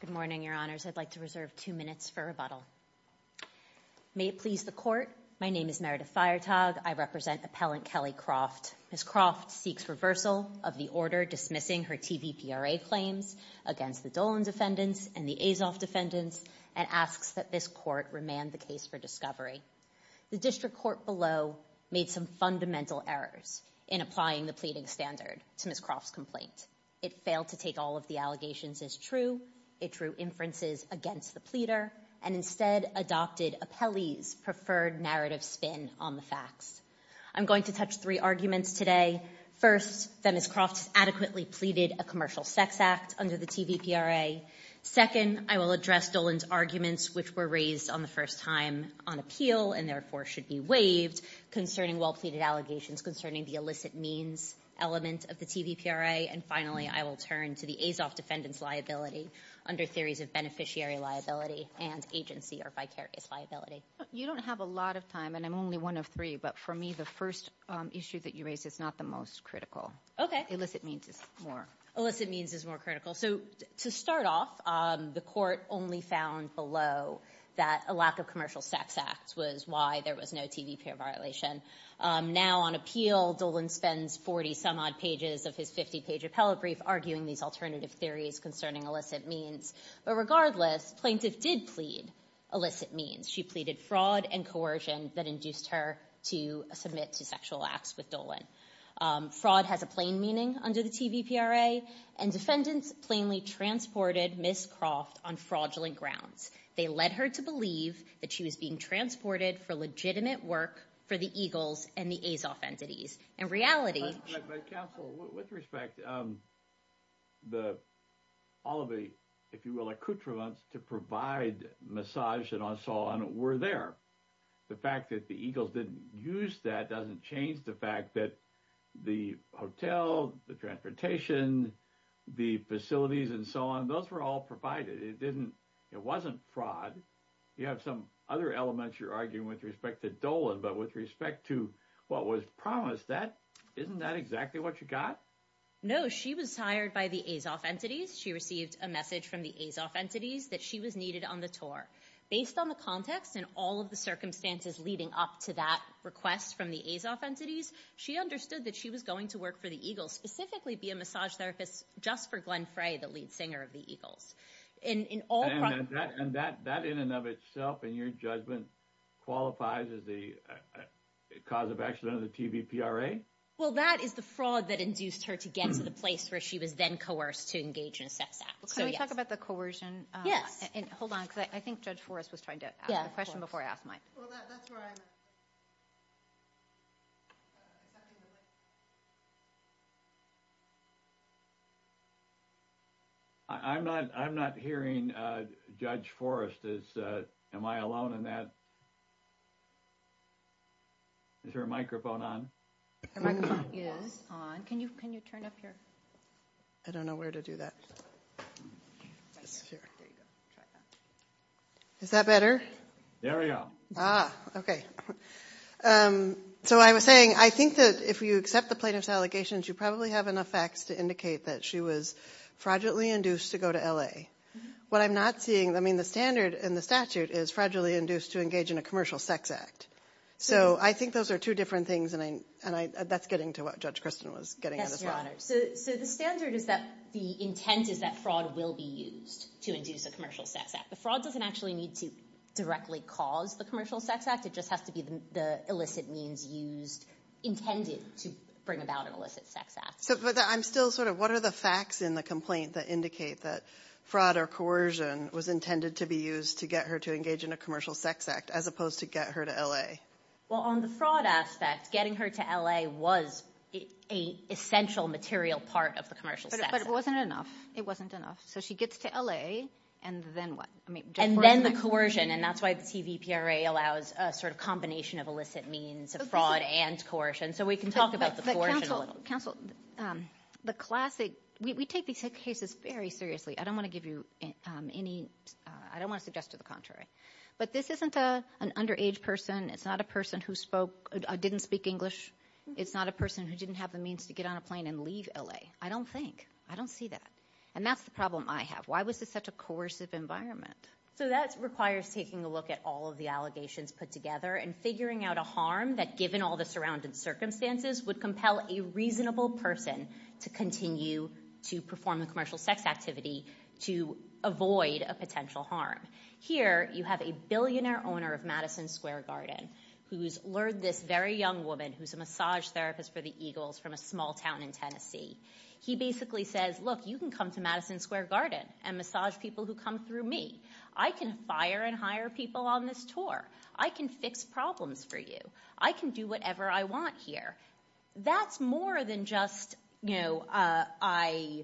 Good morning, Your Honors. I'd like to reserve two minutes for rebuttal. May it please the Court, my name is Meredith Feiertag. I represent Appellant Kelly Croft. Ms. Croft seeks reversal of the order dismissing her TVPRA claims against the Dolan defendants and the Azoff defendants and asks that this Court remand the case for discovery. The District Court below made some fundamental errors in applying the pleading standard to Ms. Croft's complaint. It failed to take all of the allegations as true. It drew inferences against the pleader and instead adopted Appellee's preferred narrative spin on the facts. I'm going to touch three arguments today. First, that Ms. Croft adequately pleaded a commercial sex act under the TVPRA. Second, I will address Dolan's arguments which were raised on the first time on appeal and therefore should be waived concerning well-pleaded allegations concerning the illicit means element of the TVPRA. And finally, I will turn to the Azoff defendant's liability under theories of beneficiary liability and agency or vicarious liability. You don't have a lot of time and I'm only one of three, but for me the first issue that you raised is not the most critical. Okay. Illicit means is more. Illicit means is more critical. So to start off, the Court only found below that a lack of commercial sex acts was why there was no TVPRA violation. Now on appeal, Dolan spends 40-some-odd pages of his 50-page appellate brief arguing these alternative theories concerning illicit means. But regardless, plaintiff did plead illicit means. She pleaded fraud and coercion that induced her to submit to sexual acts with Dolan. Fraud has a plain meaning under the TVPRA and defendants plainly transported Ms. Croft on fraudulent grounds. They led her to believe that she was being transported for legitimate work for the Eagles and the Azoff entities. In reality- But counsel, with respect, all of the, if you will, accoutrements to provide massage and so on were there. The fact that the Eagles didn't use that doesn't change the fact that the hotel, the transportation, the facilities and so on, those were all provided. It wasn't fraud. You have some other elements you're arguing with respect to Dolan, but with respect to what was promised, isn't that exactly what you got? No, she was hired by the Azoff entities. She received a message from the Azoff entities that she was needed on the tour. Based on the context and all of the circumstances leading up to that request from the Azoff entities, she understood that she was going to work for the Eagles, specifically be a massage therapist just for Glenn Frey, the lead singer of the Eagles. In all- That in and of itself, in your judgment, qualifies as the cause of accident of the TVPRA? Well, that is the fraud that induced her to get into the place where she was then coerced to engage in a sex act. Can we talk about the coercion? Yes. Hold on, because I think Judge Forrest was trying to ask a question before I asked mine. Well, that's where I'm at. I'm not hearing Judge Forrest. Am I alone in that? Is her microphone on? Her microphone is on. Can you turn up your- I don't know where to do that. There you go. Try that. Is that better? There we go. Okay. So I was saying, I think that if you accept the plaintiff's allegations, you probably have enough facts to indicate that she was fraudulently induced to go to L.A. What I'm not seeing, I mean, the standard in the statute is fraudulently induced to engage in a commercial sex act. So I think those are two different things, and that's getting to what Judge Kristen was getting at as well. That's right. So the standard is that the intent is that fraud will be used to induce a commercial sex act. The fraud doesn't actually need to directly cause the commercial sex act. It just has to be the illicit means used, intended to bring about an illicit sex act. But I'm still sort of, what are the facts in the complaint that indicate that fraud or coercion was intended to be used to get her to engage in a commercial sex act, as opposed to get her to L.A.? Well, on the fraud aspect, getting her to L.A. was an essential material part of the commercial sex act. But it wasn't enough. It wasn't enough. So she gets to L.A., and then what? And then the coercion, and that's why the CVPRA allows a sort of combination of illicit means, of fraud and coercion. So we can talk about the coercion a little. But counsel, the classic, we take these cases very seriously. I don't want to give you any, I don't want to suggest to the contrary. But this isn't an underage person. It's not a person who spoke, didn't speak English. It's not a person who didn't have the And that's the problem I have. Why was this such a coercive environment? So that requires taking a look at all of the allegations put together and figuring out a harm that, given all the surrounding circumstances, would compel a reasonable person to continue to perform the commercial sex activity to avoid a potential harm. Here, you have a billionaire owner of Madison Square Garden who's lured this very young woman who's a massage therapist for the Eagles from a small town in Tennessee. He basically says, look, you can come to Madison Square Garden and massage people who come through me. I can fire and hire people on this tour. I can fix problems for you. I can do whatever I want here. That's more than just, you know, I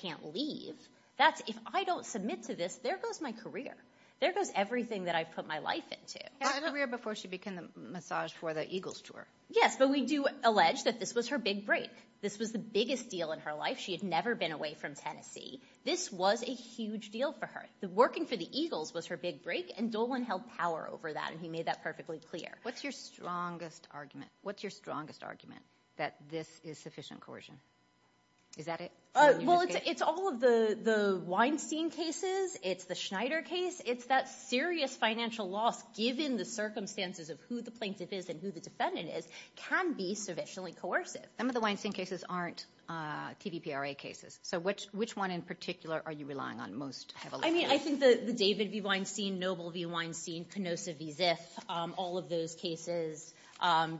can't leave. That's, if I don't submit to this, there goes my career. There goes everything that I've put my life into. A career before she began the massage for the Eagles tour. Yes, but we do allege that this was her big break. This was the biggest deal in her life. She had never been away from Tennessee. This was a huge deal for her. Working for the Eagles was her big break and Dolan held power over that and he made that perfectly clear. What's your strongest argument? What's your strongest argument that this is sufficient coercion? Is that it? Well, it's all of the Weinstein cases. It's the Schneider case. It's that serious financial loss given the circumstances of who the plaintiff is and who the defendant is can be sufficiently coercive. Some of the Weinstein cases aren't TVPRA cases. So which one in particular are you relying on most heavily? I mean, I think the David v. Weinstein, Noble v. Weinstein, Canosa v. Ziff, all of those cases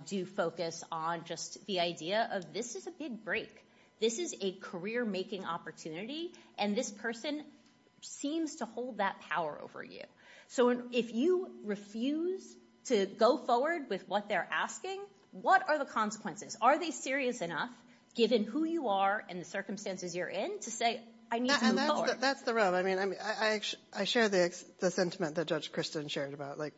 do focus on just the idea of this is a big break. This is a career making opportunity and this person seems to hold that power over you. So if you refuse to go forward with what they're asking, what are the consequences? Are they serious enough, given who you are and the circumstances you're in, to say I need to move forward? That's the rub. I mean, I share the sentiment that Judge Kristen shared about, like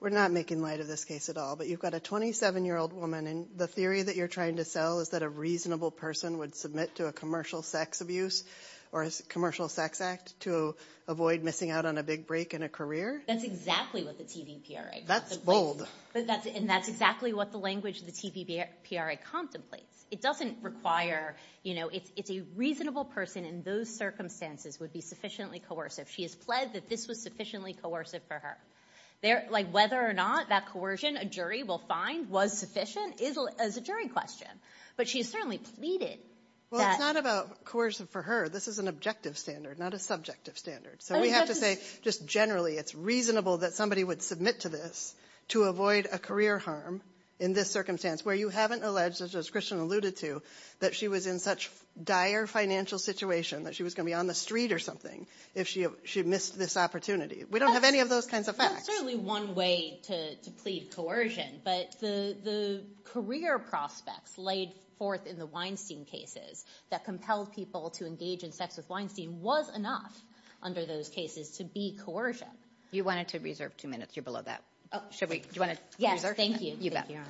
we're not making light of this case at all, but you've got a 27-year-old woman and the theory that you're trying to sell is that a reasonable person would submit to a commercial sex abuse or a commercial sex act to avoid missing out on a big break in a career? That's exactly what the TVPRA contemplates. That's bold. And that's exactly what the language of the TVPRA contemplates. It doesn't require, you know, it's a reasonable person in those circumstances would be sufficiently coercive. She has pled that this was sufficiently coercive for her. Like whether or not that coercion a jury will find was sufficient is a jury question, but she has certainly pleaded that. Well, it's not about coercion for her. This is an objective standard, not a subjective standard. So we have to say just generally it's reasonable that somebody would submit to this to avoid a career harm in this circumstance where you haven't alleged, as Kristen alluded to, that she was in such dire financial situation that she was going to be on the street or something if she missed this opportunity. We don't have any of those kinds of facts. There's certainly one way to plead coercion, but the career prospects laid forth in the Weinstein cases that compelled people to engage in sex with Weinstein was enough under those cases to be coercion. You wanted to reserve two minutes. You're below that. Oh, should we? Do you want to reserve two minutes? Yes, thank you.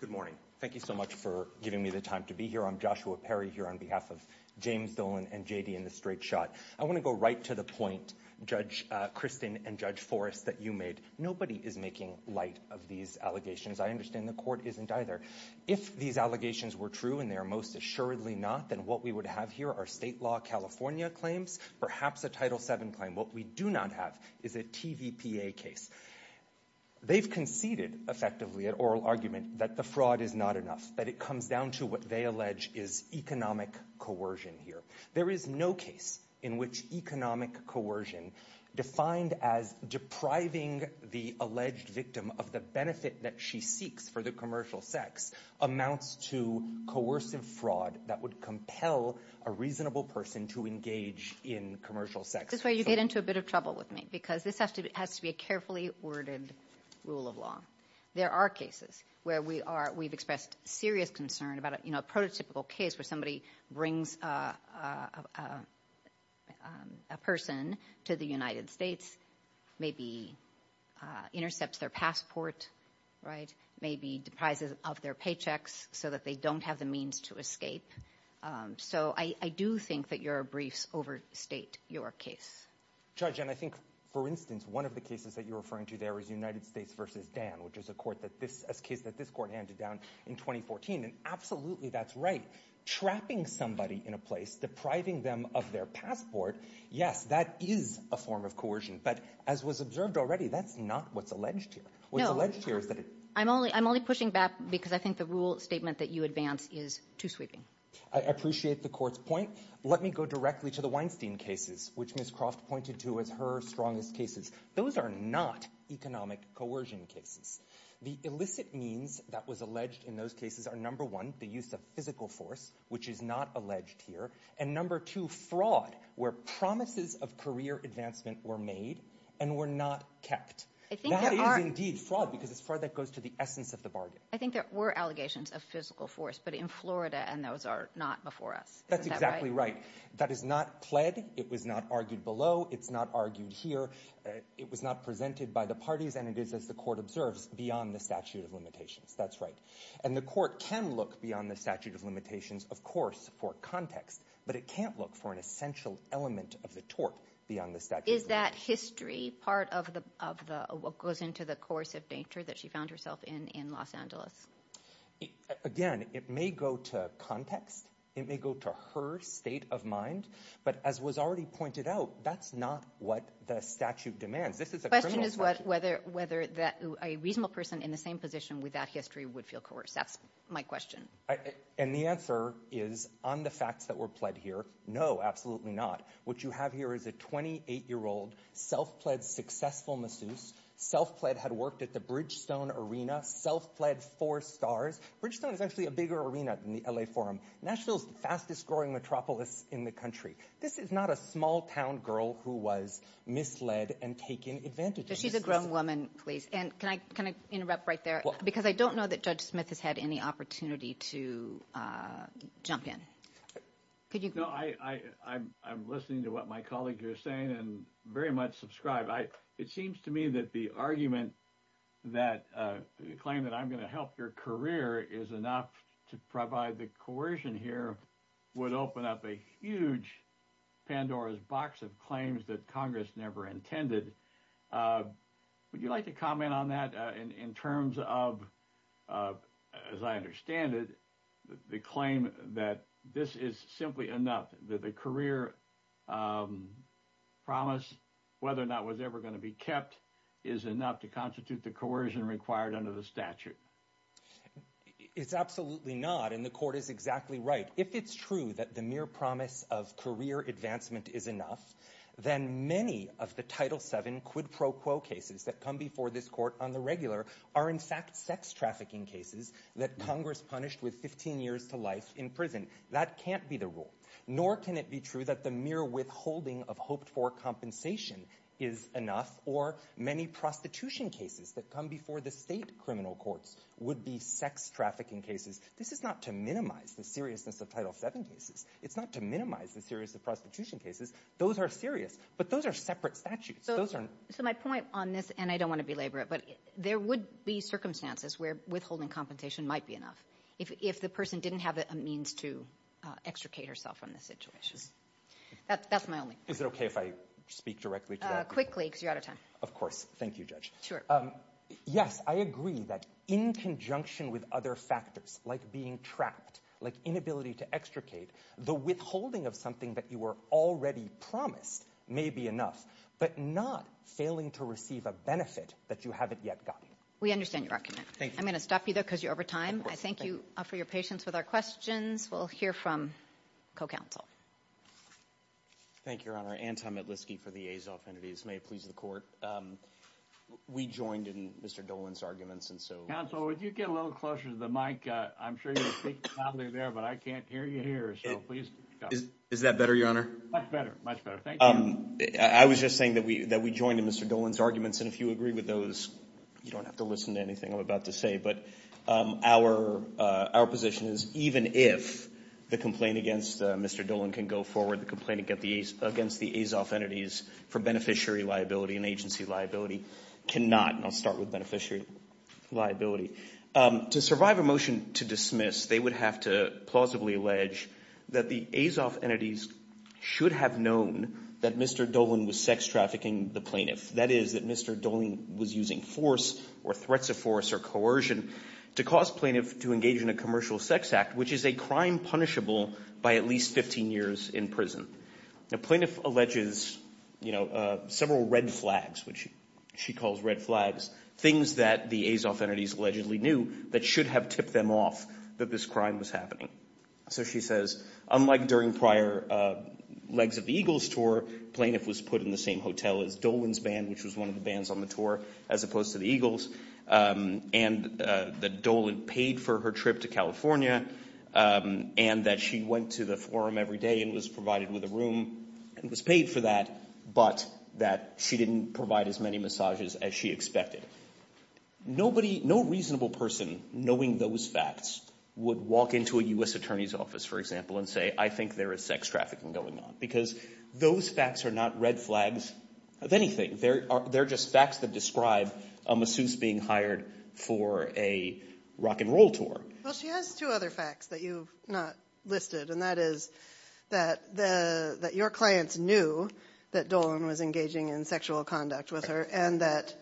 Good morning. Thank you so much for giving me the time to be here. I'm Joshua Perry here on behalf of James Dolan and J.D. in the straight shot. I want to go right to the point, Judge Kristen and Judge Forrest, that you made. Nobody is making light of these allegations. I understand the court isn't either. If these allegations were true and they are most assuredly not, then what we would have here are state law California claims, perhaps a Title VII claim. What we do not have is a TVPA case. They've conceded effectively at oral argument that the fraud is not enough, that it comes down to what they allege is economic coercion here. There is no case in which economic coercion defined as depriving the alleged victim of the benefit that she seeks for the commercial sex amounts to coercive fraud that would compel a reasonable person to engage in commercial sex. This is where you get into a bit of trouble with me because this has to be a carefully worded rule of law. There are cases where we've expressed serious concern about a prototypical case where somebody brings a person to the United States, maybe intercepts their passport, right, maybe deprives them of their paychecks so that they don't have the means to escape. So I do think that your briefs overstate your case. Judge, and I think, for instance, one of the cases that you're referring to there is United States v. Dan, which is a court that this – a case that this Court handed down in 2014. And absolutely that's right. Trapping somebody in a place, depriving them of their passport, yes, that is a form of coercion. But as was observed already, that's not what's alleged here. What's alleged here is that it – I'm only pushing back because I think the rule statement that you advance is too sweeping. I appreciate the Court's point. Let me go directly to the Weinstein cases, which Ms. Croft pointed to as her strongest cases. Those are not economic coercion cases. The illicit means that was alleged in those cases are, number one, the use of physical force, which is not alleged here, and number two, fraud, where promises of career advancement were made and were not kept. That is indeed fraud because it's fraud that goes to the essence of the bargain. I think there were allegations of physical force, but in Florida, and those are not before us. That's exactly right. That is not pled. It was not argued below. It's not argued here. It was not presented by the parties, and it is, as the Court observes, beyond the statute of limitations. That's right. And the Court can look beyond the statute of limitations, of course, for context, but it can't look for an essential element of the tort beyond the statute of limitations. Is that history part of what goes into the course of danger that she found herself in in Los Angeles? Again, it may go to context. It may go to her state of mind. But as was already pointed out, that's not what the statute demands. This is a criminal statute. The question is whether a reasonable person in the same position without history would feel coerced. That's my question. And the answer is on the facts that were pled here, no, absolutely not. What you have here is a 28-year-old self-pled successful masseuse, self-pled had worked at the Bridgestone Arena, self-pled four stars. Bridgestone is actually a bigger arena than the L.A. Forum. Nashville is the fastest-growing metropolis in the country. This is not a small-town girl who was misled and taken advantage of. She's a grown woman, please. And can I interrupt right there? Because I don't know that Judge Smith has had any opportunity to jump in. I'm listening to what my colleague here is saying and very much subscribe. It seems to me that the argument that claim that I'm going to help your career is enough to provide the coercion here would open up a huge Pandora's box of claims that Congress never intended. Would you like to comment on that in terms of, as I understand it, the claim that this is simply enough, that the career promise, whether or not it was ever going to be kept, is enough to constitute the coercion required under the statute? It's absolutely not, and the court is exactly right. If it's true that the mere promise of career advancement is enough, then many of the Title VII quid pro quo cases that come before this court on the regular are in fact sex trafficking cases that Congress punished with 15 years to life in prison. That can't be the rule. Nor can it be true that the mere withholding of hoped-for compensation is enough, or many prostitution cases that come before the state criminal courts would be sex trafficking cases. This is not to minimize the seriousness of Title VII cases. It's not to minimize the seriousness of prostitution cases. Those are serious, but those are separate statutes. So my point on this, and I don't want to belabor it, but there would be circumstances where withholding compensation might be enough if the person didn't have a means to extricate herself from the situation. That's my only point. Is it okay if I speak directly to that? Quickly, because you're out of time. Of course. Thank you, Judge. Sure. Yes, I agree that in conjunction with other factors like being trapped, like inability to extricate, the withholding of something that you were already promised may be enough, but not failing to receive a benefit that you haven't yet gotten. We understand your argument. Thank you. I'm going to stop you, though, because you're over time. Of course. Thank you. I thank you for your patience with our questions. We'll hear from co-counsel. Thank you, Your Honor. Thank you, Your Honor. Anton Metlisky for the aides' affinities. May it please the Court. We joined in Mr. Dolan's arguments. Counsel, would you get a little closer to the mic? I'm sure you were speaking loudly there, but I can't hear you here. Is that better, Your Honor? Much better. Much better. Thank you. I was just saying that we joined in Mr. Dolan's arguments, and if you agree with those, you don't have to listen to anything I'm about to say. But our position is even if the complaint against Mr. Dolan can go forward, the complaint against the Azov entities for beneficiary liability and agency liability cannot. And I'll start with beneficiary liability. To survive a motion to dismiss, they would have to plausibly allege that the Azov entities should have known that Mr. Dolan was sex trafficking the plaintiff. That is, that Mr. Dolan was using force or threats of force or coercion to cause plaintiff to engage in a commercial sex act, which is a crime punishable by at least 15 years in prison. The plaintiff alleges, you know, several red flags, which she calls red flags, things that the Azov entities allegedly knew that should have tipped them off that this crime was happening. So she says, unlike during prior Legs of the Eagles tour, plaintiff was put in the same hotel as Dolan's band, which was one of the bands on the tour, as opposed to the Eagles, and that Dolan paid for her trip to California, and that she went to the forum every day and was provided with a room and was paid for that, but that she didn't provide as many massages as she expected. Nobody, no reasonable person knowing those facts would walk into a U.S. attorney's office, for example, and say, I think there is sex trafficking going on, because those facts are not red flags of anything. They're just facts that describe a masseuse being hired for a rock and roll tour. Well, she has two other facts that you've not listed, and that is that your clients knew that Dolan was engaging in sexual conduct with her and that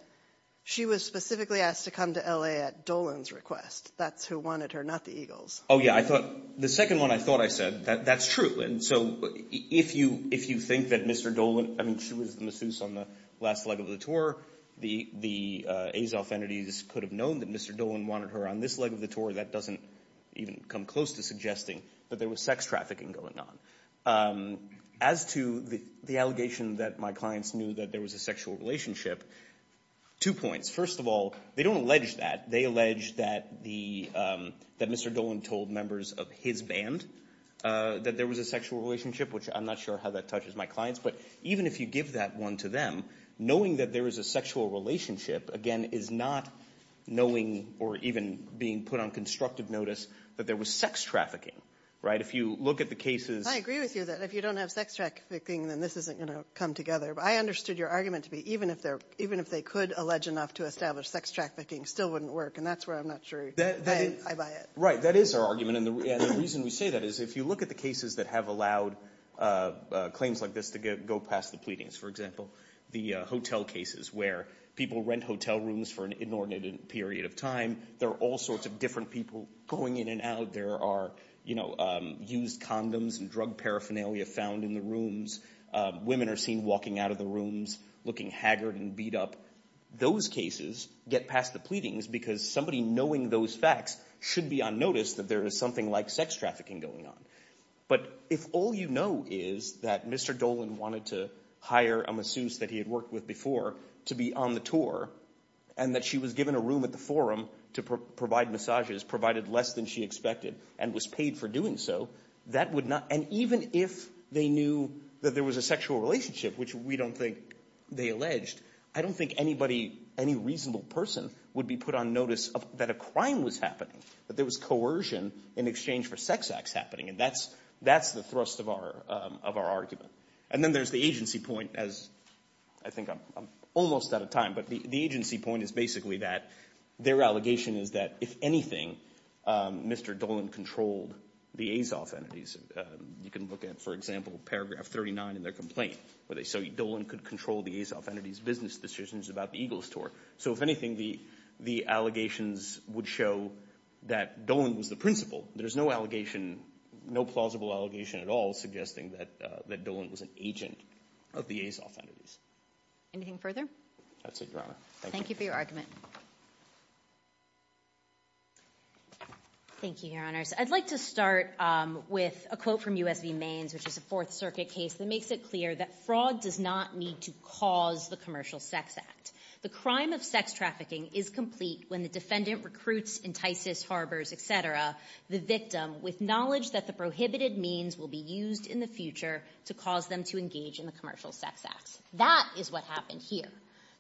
she was specifically asked to come to L.A. at Dolan's request. That's who wanted her, not the Eagles. Oh, yeah. I thought – the second one I thought I said, that's true. And so if you think that Mr. Dolan – I mean, she was the masseuse on the last Leg of the tour. The Azov entities could have known that Mr. Dolan wanted her on this Leg of the tour. That doesn't even come close to suggesting that there was sex trafficking going on. As to the allegation that my clients knew that there was a sexual relationship, two points. First of all, they don't allege that. They allege that the – that Mr. Dolan told members of his band that there was a sexual relationship, which I'm not sure how that touches my clients. But even if you give that one to them, knowing that there was a sexual relationship, again, is not knowing or even being put on constructive notice that there was sex trafficking, right? If you look at the cases – I agree with you that if you don't have sex trafficking, then this isn't going to come together. But I understood your argument to be even if they could allege enough to establish sex trafficking, it still wouldn't work. And that's where I'm not sure I buy it. Right. That is our argument. And the reason we say that is if you look at the cases that have allowed claims like this to go past the pleadings, for example, the hotel cases where people rent hotel rooms for an inordinate period of time, there are all sorts of different people going in and out. There are used condoms and drug paraphernalia found in the rooms. Women are seen walking out of the rooms looking haggard and beat up. Those cases get past the pleadings because somebody knowing those facts should be on notice that there is something like sex trafficking going on. But if all you know is that Mr. Dolan wanted to hire a masseuse that he had worked with before to be on the tour and that she was given a room at the forum to provide massages, provided less than she expected and was paid for doing so, that would not – and even if they knew that there was a sexual relationship, which we don't think they alleged, I don't think anybody, any reasonable person would be put on notice that a crime was happening, that there was coercion in exchange for sex acts happening. And that's the thrust of our argument. And then there's the agency point, as I think I'm almost out of time, but the agency point is basically that their allegation is that if anything, Mr. Dolan controlled the Azov entities. You can look at, for example, paragraph 39 in their complaint where they say Dolan could control the Azov entities' business decisions about the Eagles tour. So if anything, the allegations would show that Dolan was the principal. There's no allegation, no plausible allegation at all suggesting that Dolan was an agent of the Azov entities. Anything further? That's it, Your Honor. Thank you. Thank you for your argument. Thank you, Your Honors. I'd like to start with a quote from U.S. v. Mains, which is a Fourth Circuit case, that makes it clear that fraud does not need to cause the Commercial Sex Act. The crime of sex trafficking is complete when the defendant recruits, entices, harbors, et cetera, the victim with knowledge that the prohibited means will be used in the future to cause them to engage in the Commercial Sex Act. That is what happened here.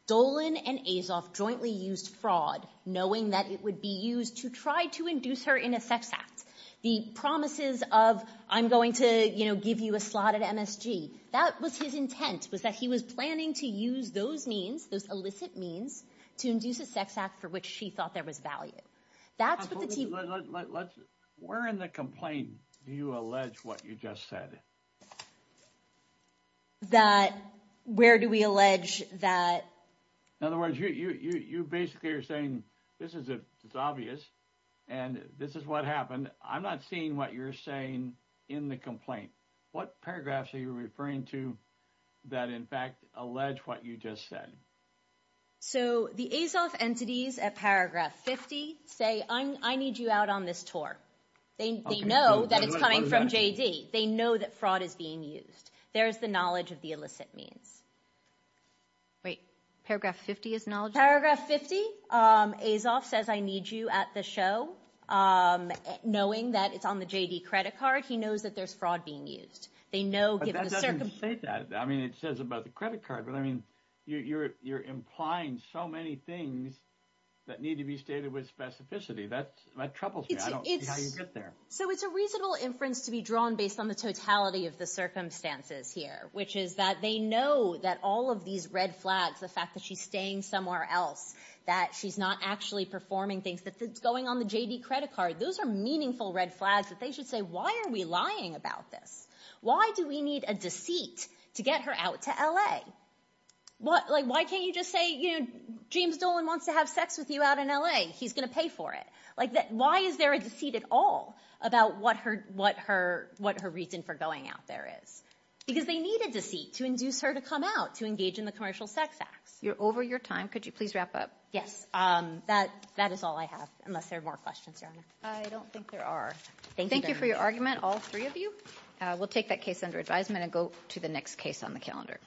Dolan and Azov jointly used fraud, knowing that it would be used to try to induce her in a sex act. The promises of I'm going to give you a slot at MSG, that was his intent, was that he was planning to use those means, those illicit means, to induce a sex act for which she thought there was value. That's what the team… Where in the complaint do you allege what you just said? That where do we allege that… In other words, you basically are saying this is obvious and this is what happened. I'm not seeing what you're saying in the complaint. What paragraphs are you referring to that in fact allege what you just said? So the Azov entities at paragraph 50 say, I need you out on this tour. They know that it's coming from JD. They know that fraud is being used. There is the knowledge of the illicit means. Wait, paragraph 50 is knowledge? Paragraph 50, Azov says, I need you at the show, knowing that it's on the JD credit card. He knows that there's fraud being used. But that doesn't say that. I mean, it says about the credit card, but I mean, you're implying so many things that need to be stated with specificity. That troubles me. I don't see how you get there. So it's a reasonable inference to be drawn based on the totality of the circumstances here, which is that they know that all of these red flags, the fact that she's staying somewhere else, that she's not actually performing things, that it's going on the JD credit card, those are meaningful red flags that they should say, why are we lying about this? Why do we need a deceit to get her out to L.A.? Like, why can't you just say, you know, James Dolan wants to have sex with you out in L.A. He's going to pay for it. Like, why is there a deceit at all about what her reason for going out there is? Because they need a deceit to induce her to come out to engage in the commercial sex acts. You're over your time. Could you please wrap up? Yes. That is all I have, unless there are more questions. I don't think there are. Thank you for your argument, all three of you. We'll take that case under advisement and go to the next case on the calendar.